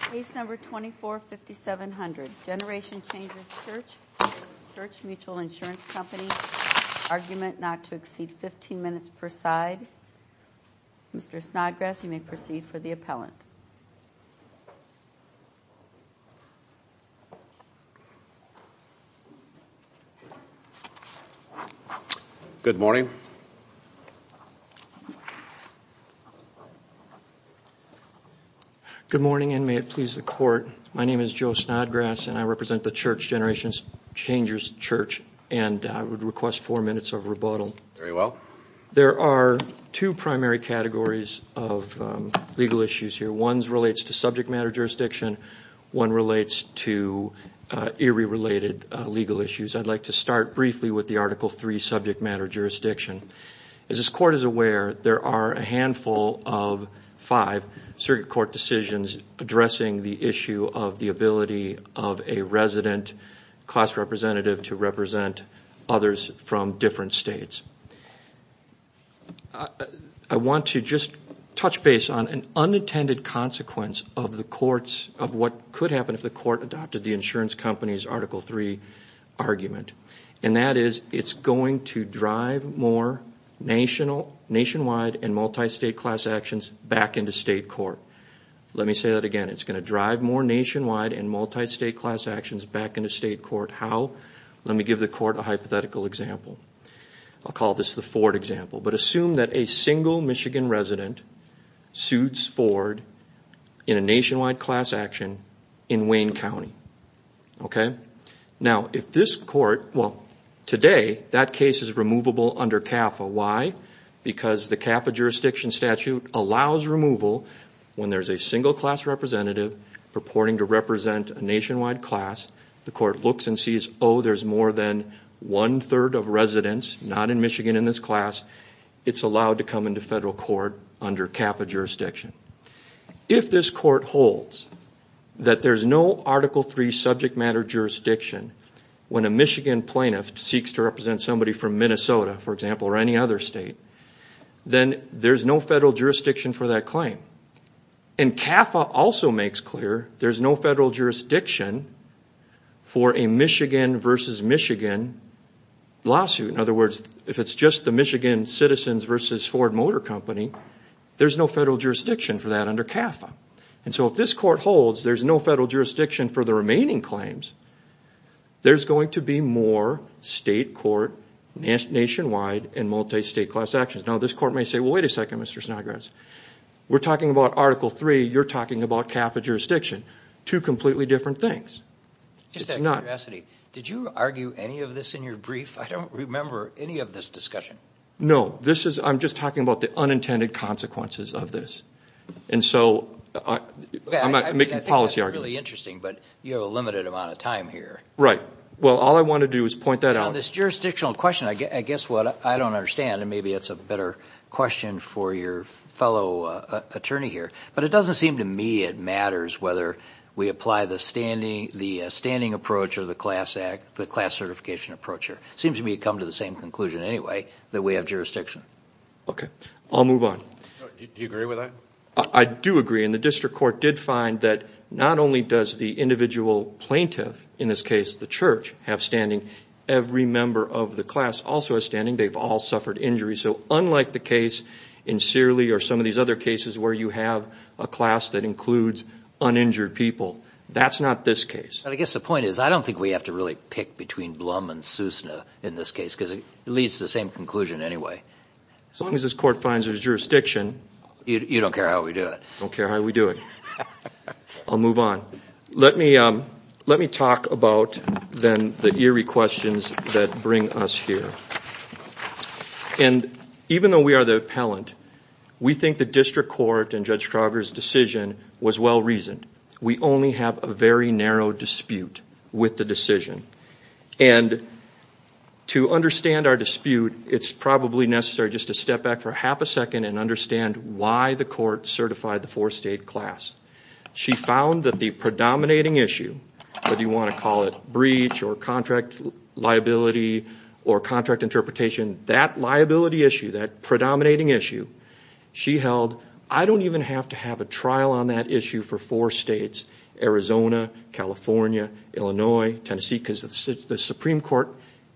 Case No. 245700, Generation Changers Church v. Church Mutual Insurance Company, argument not to exceed 15 minutes per side. Mr. Snodgrass, you may proceed for the appellant. Good morning. Good morning, and may it please the Court, my name is Joe Snodgrass, and I represent the Church Generations Changers Church, and I would request four minutes of rebuttal. Very well. There are two primary categories of legal issues here. One relates to subject matter jurisdiction. One relates to eerie-related legal issues. I'd like to start briefly with the Article III subject matter jurisdiction. As this Court is aware, there are a handful of five circuit court decisions addressing the issue of the ability of a resident class representative to represent others from different states. I want to just touch base on an unintended consequence of what could happen if the Court adopted the insurance company's Article III argument. And that is, it's going to drive more nationwide and multi-state class actions back into state court. Let me say that again. It's going to drive more nationwide and multi-state class actions back into state court. How? Let me give the Court a hypothetical example. I'll call this the Ford example, but assume that a single Michigan resident sues Ford in a nationwide class action in Wayne County. Okay? Now, if this Court, well, today, that case is removable under CAFA. Why? Because the CAFA jurisdiction statute allows removal when there's a single class representative purporting to represent a nationwide class. The Court looks and sees, oh, there's more than one-third of residents not in Michigan in this class. It's allowed to come into federal court under CAFA jurisdiction. If this Court holds that there's no Article III subject matter jurisdiction when a Michigan plaintiff seeks to represent somebody from Minnesota, for example, or any other state, then there's no federal jurisdiction for that claim. And CAFA also makes clear there's no federal jurisdiction for a Michigan versus Michigan lawsuit. In other words, if it's just the Michigan Citizens versus Ford Motor Company, there's no federal jurisdiction for that under CAFA. And so if this Court holds there's no federal jurisdiction for the remaining claims, there's going to be more state court, nationwide, and multi-state class actions. Now, this Court may say, well, wait a second, Mr. Snodgrass. We're talking about Article III. You're talking about CAFA jurisdiction. Two completely different things. It's not. Did you argue any of this in your brief? I don't remember any of this discussion. No. I'm just talking about the unintended consequences of this. And so I'm not making policy arguments. I think that's really interesting, but you have a limited amount of time here. Right. Well, all I want to do is point that out. On this jurisdictional question, I guess what I don't understand, and maybe it's a better question for your fellow attorney here, but it doesn't seem to me it matters whether we apply the standing approach or the class act, the class certification approach here. It seems to me you come to the same conclusion anyway, that we have jurisdiction. Okay. I'll move on. Do you agree with that? I do agree. And the district court did find that not only does the individual plaintiff, in this case the church, have standing, every member of the class also has standing. They've all suffered injuries. So unlike the case in Searly or some of these other cases where you have a class that includes uninjured people, that's not this case. I guess the point is I don't think we have to really pick between Blum and Sousna in this case because it leads to the same conclusion anyway. As long as this court finds there's jurisdiction. You don't care how we do it. I don't care how we do it. I'll move on. Let me talk about then the eerie questions that bring us here. And even though we are the appellant, we think the district court and Judge Trauger's decision was well-reasoned. We only have a very narrow dispute with the decision. And to understand our dispute, it's probably necessary just to step back for half a second and understand why the court certified the four-state class. She found that the predominating issue, whether you want to call it breach or contract liability or contract interpretation, that liability issue, that predominating issue, she held, I don't even have to have a trial on that issue for four states, Arizona, California, Illinois, Tennessee, because the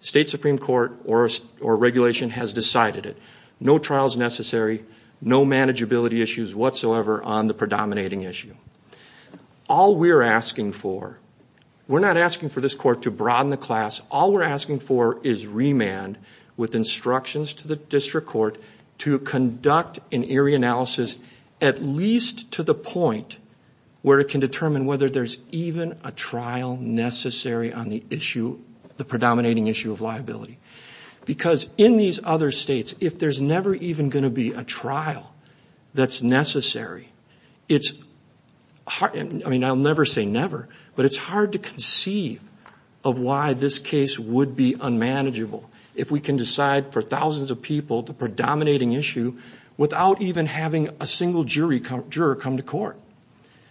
state supreme court or regulation has decided it. No trials necessary. No manageability issues whatsoever on the predominating issue. All we're asking for, we're not asking for this court to broaden the class. All we're asking for is remand with instructions to the district court to conduct an eerie analysis at least to the point where it can determine whether there's even a trial necessary on the issue, the predominating issue of liability. Because in these other states, if there's never even going to be a trial that's necessary, it's hard, I mean, I'll never say never, but it's hard to conceive of why this case would be unmanageable if we can decide for thousands of people the predominating issue without even having a single juror come to court.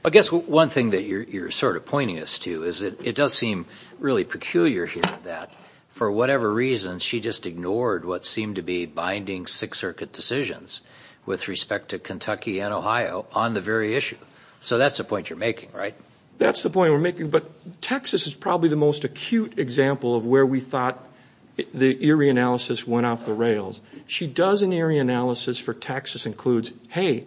I guess one thing that you're sort of pointing us to is that it does seem really peculiar here that for whatever reason, she just ignored what seemed to be binding Sixth Circuit decisions with respect to Kentucky and Ohio on the very issue. So that's the point you're making, right? That's the point we're making, but Texas is probably the most acute example of where we thought the eerie analysis went off the rails. She does an eerie analysis for Texas, includes, hey,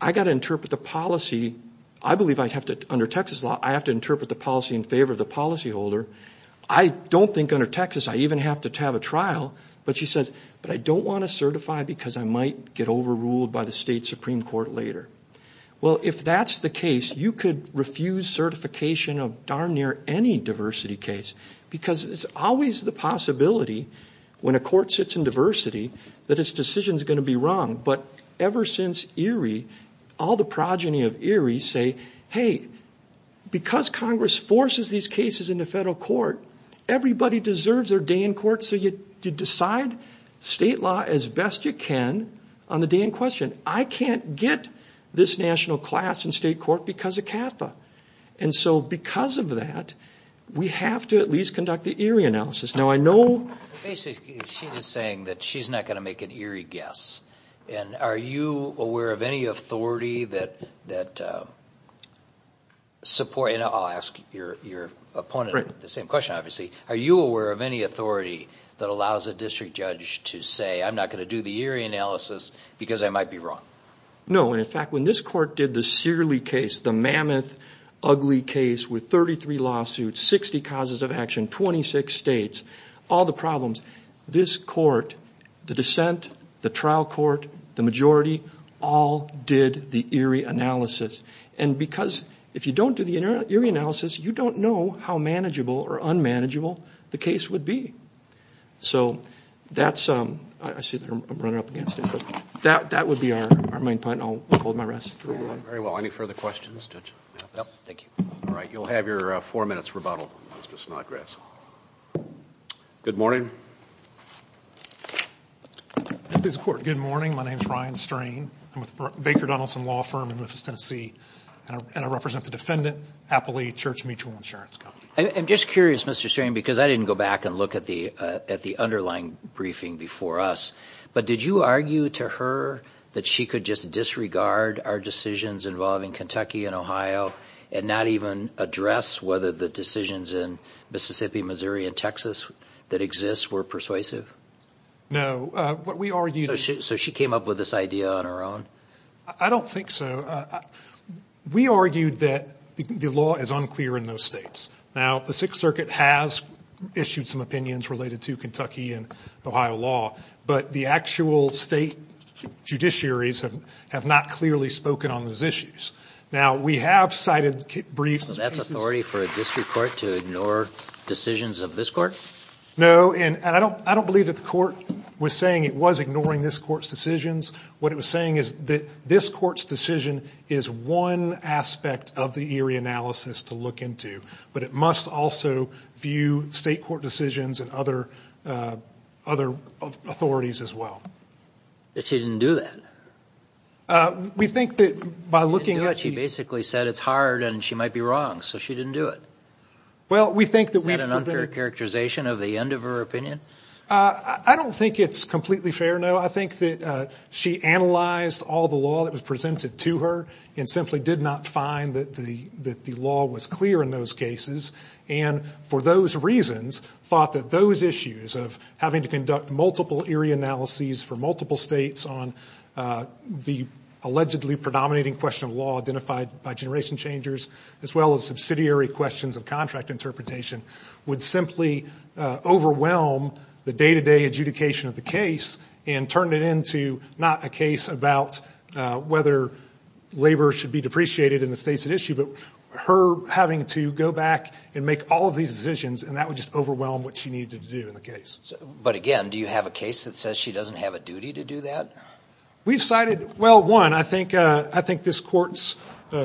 I've got to interpret the policy. I believe I have to, under Texas law, I have to interpret the policy in favor of the policyholder. I don't think under Texas I even have to have a trial. But she says, but I don't want to certify because I might get overruled by the state Supreme Court later. Well, if that's the case, you could refuse certification of darn near any diversity case, because it's always the possibility when a court sits in diversity that its decision is going to be wrong. But ever since Erie, all the progeny of Erie say, hey, because Congress forces these cases into federal court, everybody deserves their day in court, so you decide state law as best you can on the day in question. I can't get this national class in state court because of CAFA. And so because of that, we have to at least conduct the eerie analysis. Now, I know ‑‑ Basically, she's just saying that she's not going to make an eerie guess. And are you aware of any authority that supports ‑‑ and I'll ask your opponent the same question, obviously. Are you aware of any authority that allows a district judge to say, I'm not going to do the eerie analysis because I might be wrong? No. And, in fact, when this court did the Searley case, the mammoth, ugly case with 33 lawsuits, 60 causes of action, 26 states, all the problems, this court, the dissent, the trial court, the majority, all did the eerie analysis. And because if you don't do the eerie analysis, you don't know how manageable or unmanageable the case would be. So that's ‑‑ I see that I'm running up against it. But that would be our main point. And I'll hold my rest. Very well. Any further questions, Judge? No. Thank you. All right. You'll have your four minutes rebuttal, Mr. Snodgrass. Good morning. Good morning. My name is Ryan Strain. I'm with the Baker Donaldson Law Firm in Memphis, Tennessee. And I represent the defendant, Appley Church Mutual Insurance Company. I'm just curious, Mr. Strain, because I didn't go back and look at the underlying briefing before us. But did you argue to her that she could just disregard our decisions involving Kentucky and Ohio and not even address whether the decisions in Mississippi, Missouri, and Texas that exist were persuasive? No. What we argued ‑‑ So she came up with this idea on her own? I don't think so. We argued that the law is unclear in those states. Now, the Sixth Circuit has issued some opinions related to Kentucky and Ohio law. But the actual state judiciaries have not clearly spoken on those issues. Now, we have cited briefs. So that's authority for a district court to ignore decisions of this court? No. And I don't believe that the court was saying it was ignoring this court's decisions. What it was saying is that this court's decision is one aspect of the Erie analysis to look into. But it must also view state court decisions and other authorities as well. But she didn't do that. We think that by looking at the ‑‑ She basically said it's hard and she might be wrong. So she didn't do it. Is that an unfair characterization of the end of her opinion? I don't think it's completely fair, no. I think that she analyzed all the law that was presented to her and simply did not find that the law was clear in those cases. And for those reasons, thought that those issues of having to conduct multiple Erie analyses for multiple states on the allegedly predominating question of law identified by generation changers as well as subsidiary questions of contract interpretation would simply overwhelm the day‑to‑day adjudication of the case and turn it into not a case about whether labor should be depreciated in the states at issue but her having to go back and make all of these decisions and that would just overwhelm what she needed to do in the case. But again, do you have a case that says she doesn't have a duty to do that? We've cited ‑‑ well, one, I think this court's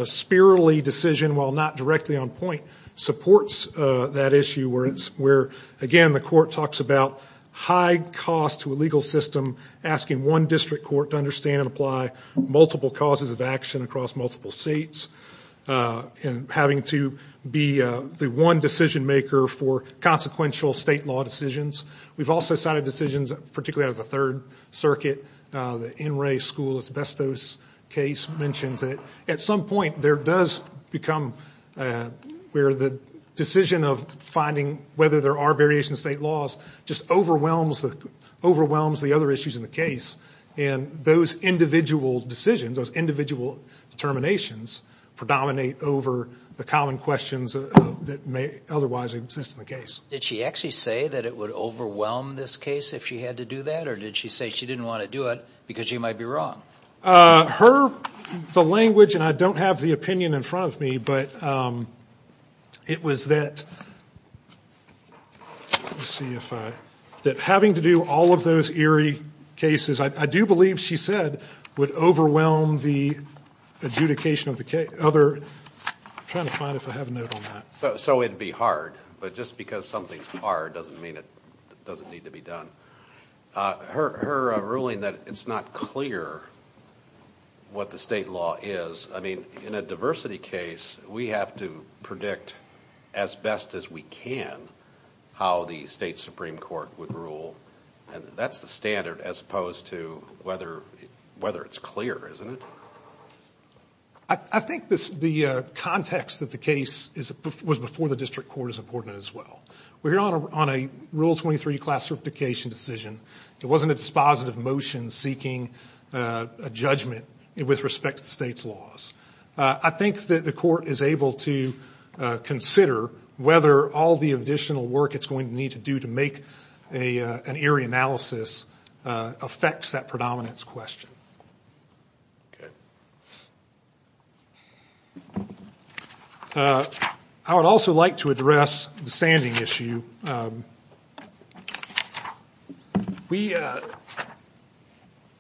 spirally decision, while not directly on point, supports that issue where, again, the court talks about high cost to a legal system asking one district court to understand and apply multiple causes of action across multiple states and having to be the one decision‑maker for consequential state law decisions. We've also cited decisions, particularly out of the Third Circuit, the NRA school asbestos case mentions that at some point there does become where the decision of finding whether there are variations in state laws just overwhelms the other issues in the case and those individual decisions, those individual determinations predominate over the common questions that may otherwise exist in the case. Did she actually say that it would overwhelm this case if she had to do that or did she say she didn't want to do it because she might be wrong? Her ‑‑ the language, and I don't have the opinion in front of me, but it was that having to do all of those eerie cases, I do believe she said would overwhelm the adjudication of the other ‑‑ I'm trying to find if I have a note on that. So it would be hard, but just because something's hard doesn't mean it doesn't need to be done. Her ruling that it's not clear what the state law is, I mean in a diversity case we have to predict as best as we can how the state Supreme Court would rule and that's the standard as opposed to whether it's clear, isn't it? I think the context that the case was before the district court is important as well. We're here on a Rule 23 classification decision. It wasn't a dispositive motion seeking a judgment with respect to the state's laws. I think that the court is able to consider whether all the additional work it's going to need to do to make an eerie analysis affects that predominance question. Okay. I would also like to address the standing issue.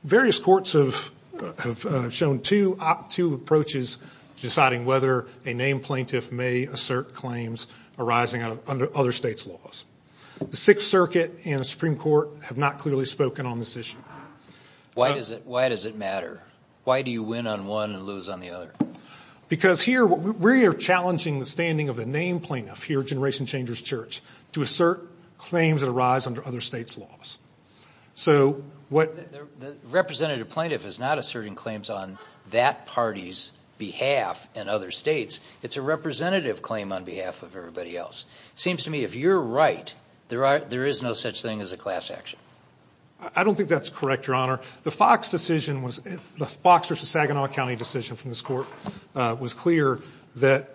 Various courts have shown two approaches to deciding whether a named plaintiff may assert claims arising under other states' laws. The Sixth Circuit and the Supreme Court have not clearly spoken on this issue. Why does it matter? Why do you win on one and lose on the other? Because here we are challenging the standing of a named plaintiff here at Generation Changers Church to assert claims that arise under other states' laws. The representative plaintiff is not asserting claims on that party's behalf and other states. It's a representative claim on behalf of everybody else. It seems to me if you're right, there is no such thing as a class action. I don't think that's correct, Your Honor. The Fox decision wasóthe Fox v. Saginaw County decision from this court was clear that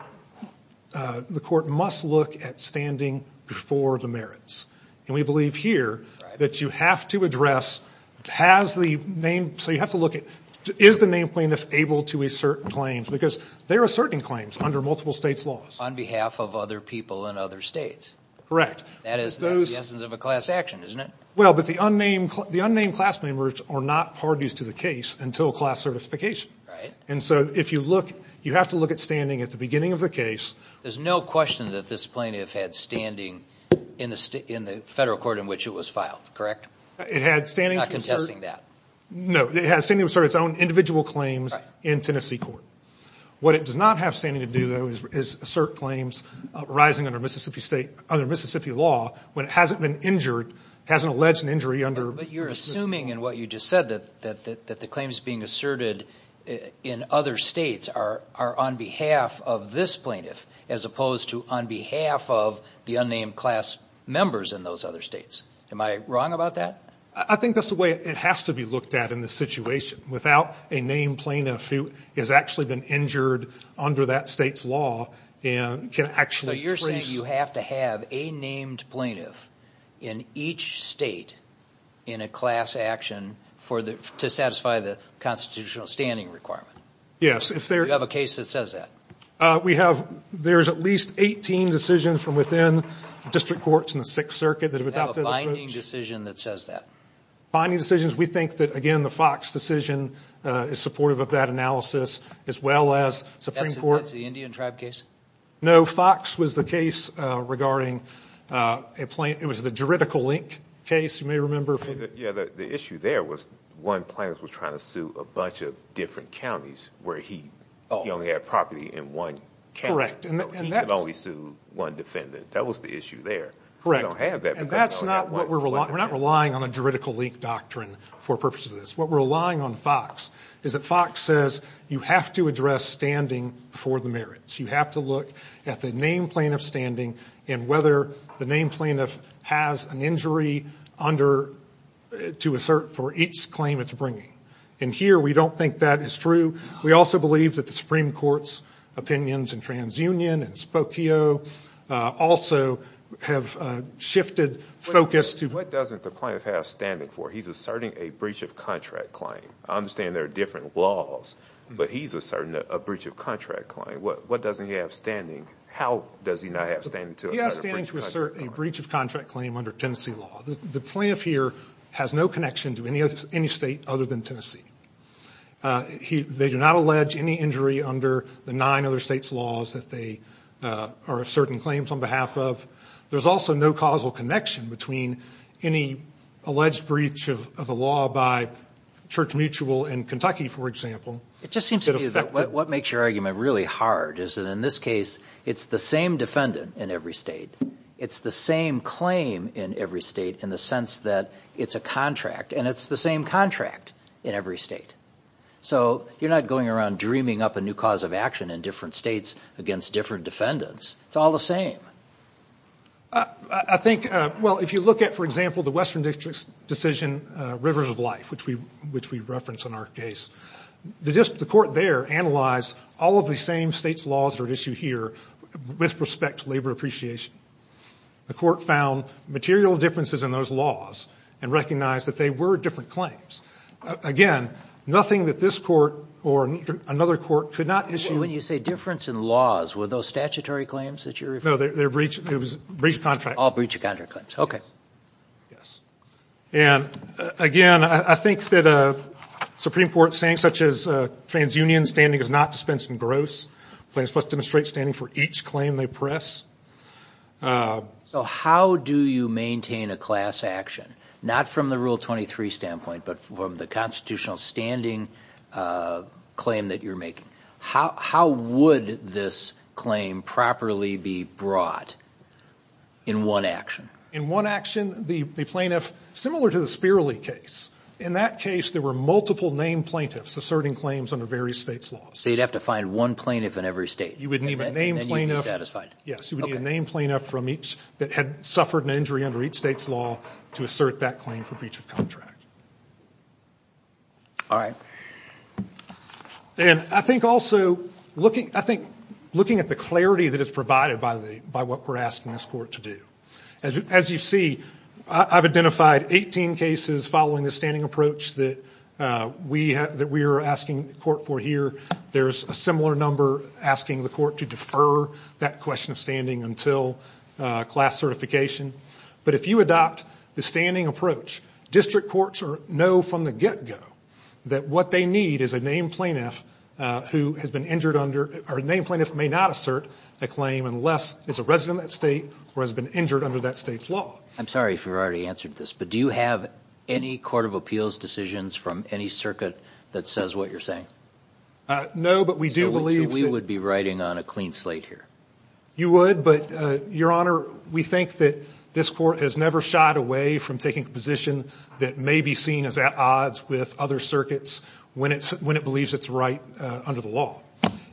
the court must look at standing before the merits. And we believe here that you have to addressóhas the nameóso you have to look ató is the named plaintiff able to assert claims? Because there are certain claims under multiple states' laws. On behalf of other people in other states. Correct. That is the essence of a class action, isn't it? Well, but the unnamed class members are not parties to the case until class certification. And so if you lookóyou have to look at standing at the beginning of the case. There's no question that this plaintiff had standing in the federal court in which it was filed. Correct? It had standing to assertó I'm not contesting that. No, it has standing to assert its own individual claims in Tennessee court. What it does not have standing to do, though, is assert claims arising under Mississippi stateó under Mississippi lawówhen it hasn't been injuredóhasn't alleged an injury underó But you're assuming in what you just said that the claims being asserted in other states are on behalf of this plaintiff as opposed to on behalf of the unnamed class members in those other states. Am I wrong about that? I think that's the way it has to be looked at in this situation. Without a named plaintiff who has actually been injured under that state's law and can actually traceó without a named plaintiff in each state in a class action to satisfy the constitutional standing requirement. Yes. Do you have a case that says that? We haveóthere's at least 18 decisions from within district courts in the Sixth Circuit that have adoptedó Do you have a binding decision that says that? Binding decisions? We think that, again, the Fox decision is supportive of that analysis as well as Supreme Courtó That's the Indian tribe case? No, Fox was the case regardingóit was the juridical link case, you may remember. Yes, the issue there was one plaintiff was trying to sue a bunch of different counties where he only had property in one county. Correct. So he could only sue one defendant. That was the issue there. Correct. We don't have that because ofó And that's not what we'reówe're not relying on a juridical link doctrine for purposes of this. What we're relying on Fox is that Fox says you have to address standing for the merits. You have to look at the named plaintiff's standing and whether the named plaintiff has an injury underóto assert for each claim it's bringing. And here we don't think that is true. We also believe that the Supreme Court's opinions in TransUnion and Spokio also have shifted focus toó What doesn't the plaintiff have standing for? He's asserting a breach of contract claim. I understand there are different laws, but he's asserting a breach of contract claim. What doesn't he have standing? How does he not have standing to assert a breach of contract claim? He has standing to assert a breach of contract claim under Tennessee law. The plaintiff here has no connection to any state other than Tennessee. They do not allege any injury under the nine other states' laws that they are asserting claims on behalf of. There's also no causal connection between any alleged breach of the law by Church Mutual in Kentucky, for exampleó It just seems to me that what makes your argument really hard is that in this case, it's the same defendant in every state. It's the same claim in every state in the sense that it's a contract, and it's the same contract in every state. So you're not going around dreaming up a new cause of action in different states against different defendants. It's all the same. I thinkówell, if you look at, for example, the Western District's decision, Rivers of Life, which we referenced in our case, the court there analyzed all of the same states' laws that are at issue here with respect to labor appreciation. The court found material differences in those laws and recognized that they were different claims. Again, nothing that this court or another court could not issueó All breach of contract claims that you're referring to? No, they're breach of contract claims. All breach of contract claims. Okay. Yes. And, again, I think that a Supreme Court saying such as, ìTransunion standing is not dispensed in gross. Plaintiffs must demonstrate standing for each claim they press.î So how do you maintain a class action, not from the Rule 23 standpoint, but from the constitutional standing claim that you're making? How would this claim properly be brought in one action? In one action, the plaintiffósimilar to the Spirley case, in that case there were multiple named plaintiffs asserting claims under various states' laws. So you'd have to find one plaintiff in every state. You would need a named plaintiffó And then you'd be satisfied. Yes. Okay. You would need a named plaintiff that had suffered an injury under each state's law to assert that claim for breach of contract. All right. And I think also looking at the clarity that is provided by what we're asking this court to do. As you see, I've identified 18 cases following the standing approach that we are asking the court for here. There's a similar number asking the court to defer that question of standing until class certification. But if you adopt the standing approach, district courts know from the get-go that what they need is a named plaintiff who has been injured underó or a named plaintiff may not assert a claim unless it's a resident of that state or has been injured under that state's law. I'm sorry if you've already answered this, but do you have any court of appeals decisions from any circuit that says what you're saying? No, but we do believeó So we would be riding on a clean slate here. You would, but, Your Honor, we think that this court has never shied away from taking a position that may be seen as at odds with other circuits when it believes it's right under the law.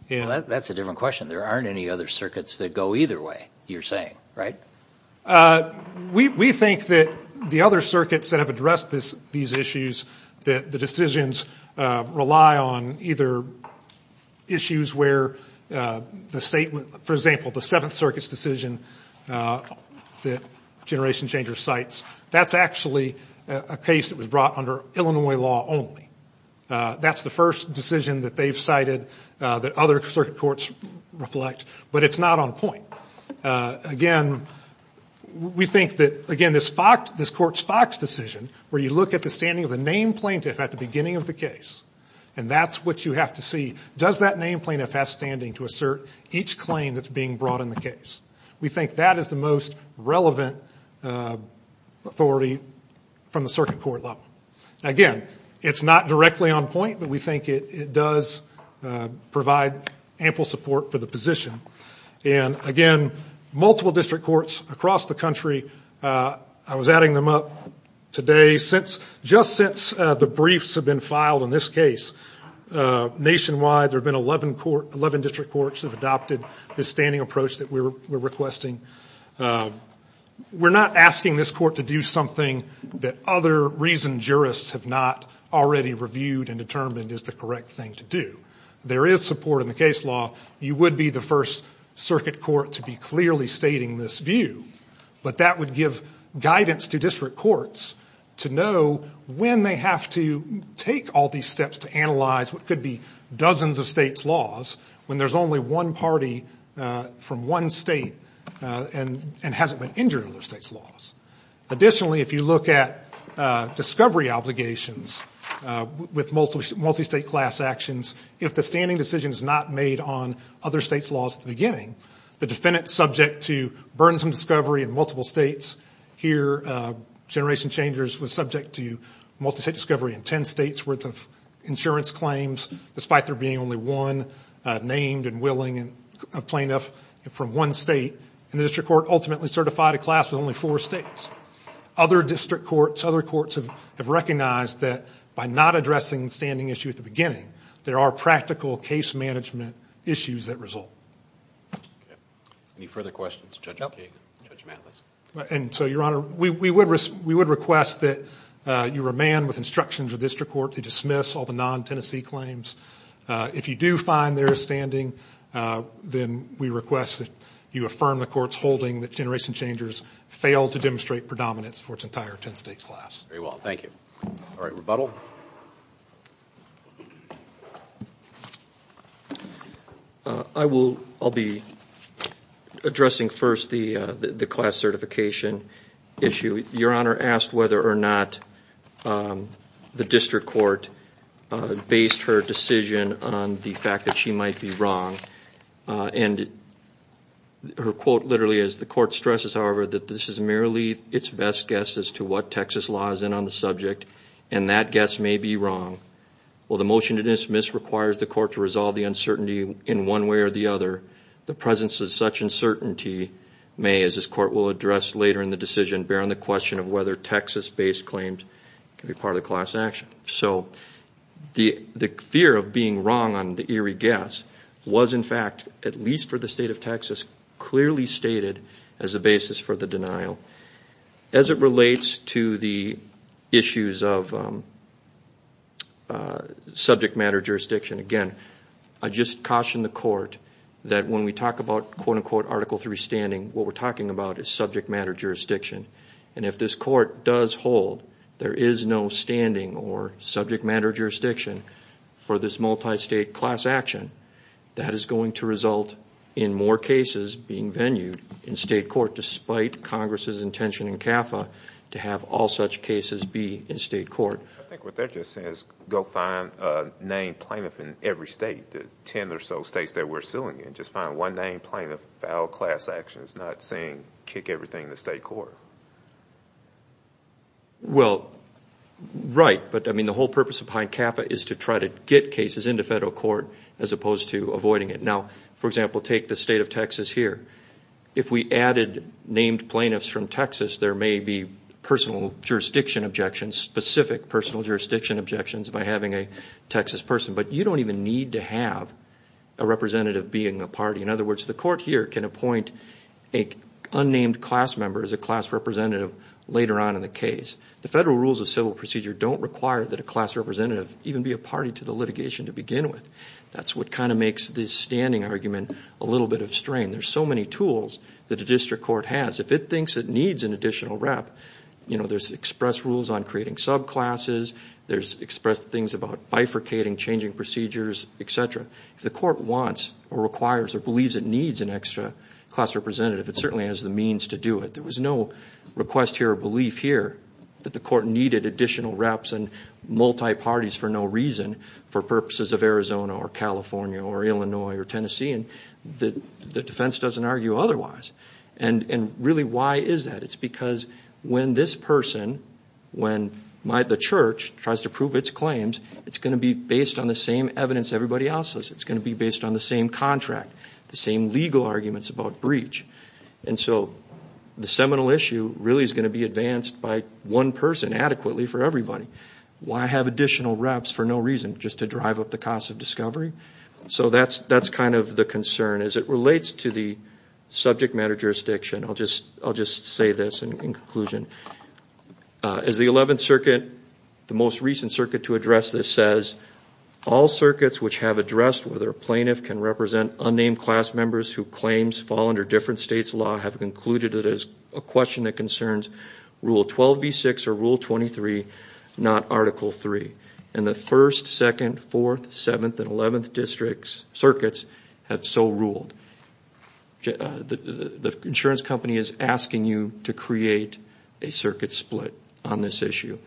Well, that's a different question. There aren't any other circuits that go either way, you're saying, right? We think that the other circuits that have addressed these issues, that the decisions rely on either issues where the stateó for example, the Seventh Circuit's decision that Generation Changer cites, that's actually a case that was brought under Illinois law only. That's the first decision that they've cited that other circuit courts reflect, but it's not on point. Again, we think that, again, this court's Fox decision, where you look at the standing of the named plaintiff at the beginning of the case, and that's what you have to see, does that named plaintiff have standing to assert each claim that's being brought in the case? We think that is the most relevant authority from the circuit court level. Again, it's not directly on point, but we think it does provide ample support for the position. Again, multiple district courts across the country, I was adding them up today, just since the briefs have been filed in this case, nationwide there have been 11 district courts that have adopted this standing approach that we're requesting. We're not asking this court to do something that other reasoned jurists have not already reviewed and determined is the correct thing to do. There is support in the case law. You would be the first circuit court to be clearly stating this view, but that would give guidance to district courts to know when they have to take all these steps to analyze what could be dozens of states' laws when there's only one party from one state and hasn't been injured under the state's laws. Additionally, if you look at discovery obligations with multi-state class actions, if the standing decision is not made on other states' laws at the beginning, the defendant is subject to burdensome discovery in multiple states. Here, Generation Changers was subject to multi-state discovery in 10 states' worth of insurance claims, despite there being only one named and willing plaintiff from one state. And the district court ultimately certified a class with only four states. Other district courts, other courts have recognized that by not addressing the standing issue at the beginning, there are practical case management issues that result. Okay. Any further questions? No. Judge Matlis. And so, Your Honor, we would request that you remand with instructions of the district court to dismiss all the non-Tennessee claims. If you do find there is standing, then we request that you affirm the court's holding that Generation Changers failed to demonstrate predominance for its entire 10-state class. Very well. Thank you. All right. Rebuttal. I will be addressing first the class certification issue. Your Honor asked whether or not the district court based her decision on the fact that she might be wrong. And her quote literally is, The court stresses, however, that this is merely its best guess as to what Texas law is in on the subject, and that guess may be wrong. While the motion to dismiss requires the court to resolve the uncertainty in one way or the other, the presence of such uncertainty may, as this court will address later in the decision, bear on the question of whether Texas-based claims can be part of the class action. So the fear of being wrong on the eerie guess was, in fact, at least for the State of Texas, clearly stated as a basis for the denial. As it relates to the issues of subject matter jurisdiction, again, I just caution the court that when we talk about quote-unquote Article III standing, what we're talking about is subject matter jurisdiction. And if this court does hold there is no standing or subject matter jurisdiction for this multi-state class action, that is going to result in more cases being venued in state court, despite Congress' intention in CAFA to have all such cases be in state court. I think what they're just saying is go find a named plaintiff in every state, the ten or so states that we're suing in. Just find one named plaintiff for all class actions, not saying kick everything to state court. Well, right. But, I mean, the whole purpose behind CAFA is to try to get cases into federal court as opposed to avoiding it. Now, for example, take the State of Texas here. If we added named plaintiffs from Texas, there may be personal jurisdiction objections, specific personal jurisdiction objections by having a Texas person. But you don't even need to have a representative being a party. In other words, the court here can appoint an unnamed class member as a class representative later on in the case. The federal rules of civil procedure don't require that a class representative even be a party to the litigation to begin with. That's what kind of makes this standing argument a little bit of strain. There's so many tools that a district court has. If it thinks it needs an additional rep, you know, there's express rules on creating subclasses. There's expressed things about bifurcating, changing procedures, et cetera. If the court wants or requires or believes it needs an extra class representative, it certainly has the means to do it. There was no request here or belief here that the court needed additional reps and multi-parties for no reason for purposes of Arizona or California or Illinois or Tennessee. And the defense doesn't argue otherwise. And really, why is that? It's because when this person, when the church tries to prove its claims, it's going to be based on the same evidence everybody else is. It's going to be based on the same contract, the same legal arguments about breach. And so the seminal issue really is going to be advanced by one person adequately for everybody. Why have additional reps for no reason, just to drive up the cost of discovery? So that's kind of the concern as it relates to the subject matter jurisdiction. I'll just say this in conclusion. As the 11th Circuit, the most recent circuit to address this says, all circuits which have addressed whether a plaintiff can represent unnamed class members who claims fall under different states' law have concluded it as a question that concerns Rule 12b-6 or Rule 23, not Article 3. And the 1st, 2nd, 4th, 7th, and 11th District's circuits have so ruled. The insurance company is asking you to create a circuit split on this issue.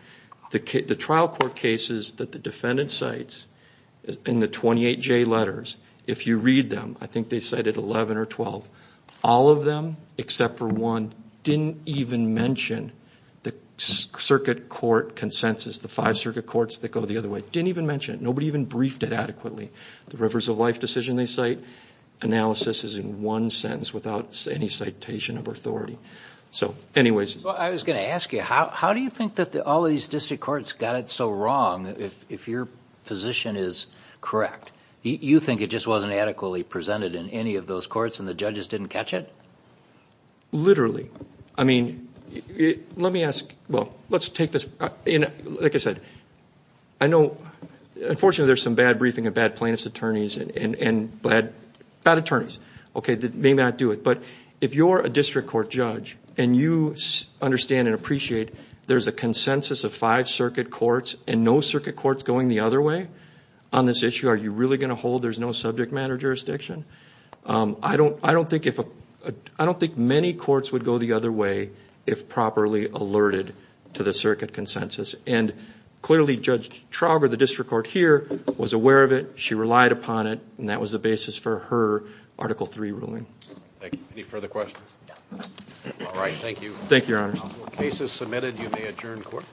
The trial court cases that the defendant cites in the 28J letters, if you read them, I think they cited 11 or 12, all of them except for one didn't even mention the circuit court consensus, the five circuit courts that go the other way. Didn't even mention it. Nobody even briefed it adequately. The Rivers of Life decision they cite, analysis is in one sentence without any citation of authority. So, anyways. Well, I was going to ask you, how do you think that all these district courts got it so wrong if your position is correct? You think it just wasn't adequately presented in any of those courts and the judges didn't catch it? Literally. Literally. I mean, let me ask, well, let's take this, like I said, I know, unfortunately, there's some bad briefing of bad plaintiff's attorneys and bad attorneys that may not do it. But if you're a district court judge and you understand and appreciate there's a consensus of five circuit courts and no circuit courts going the other way on this issue, are you really going to hold there's no subject matter jurisdiction? I don't think many courts would go the other way if properly alerted to the circuit consensus. And clearly, Judge Trauger, the district court here, was aware of it. She relied upon it. And that was the basis for her Article III ruling. Thank you. Any further questions? No. All right. Thank you. Thank you, Your Honor. Cases submitted, you may adjourn court.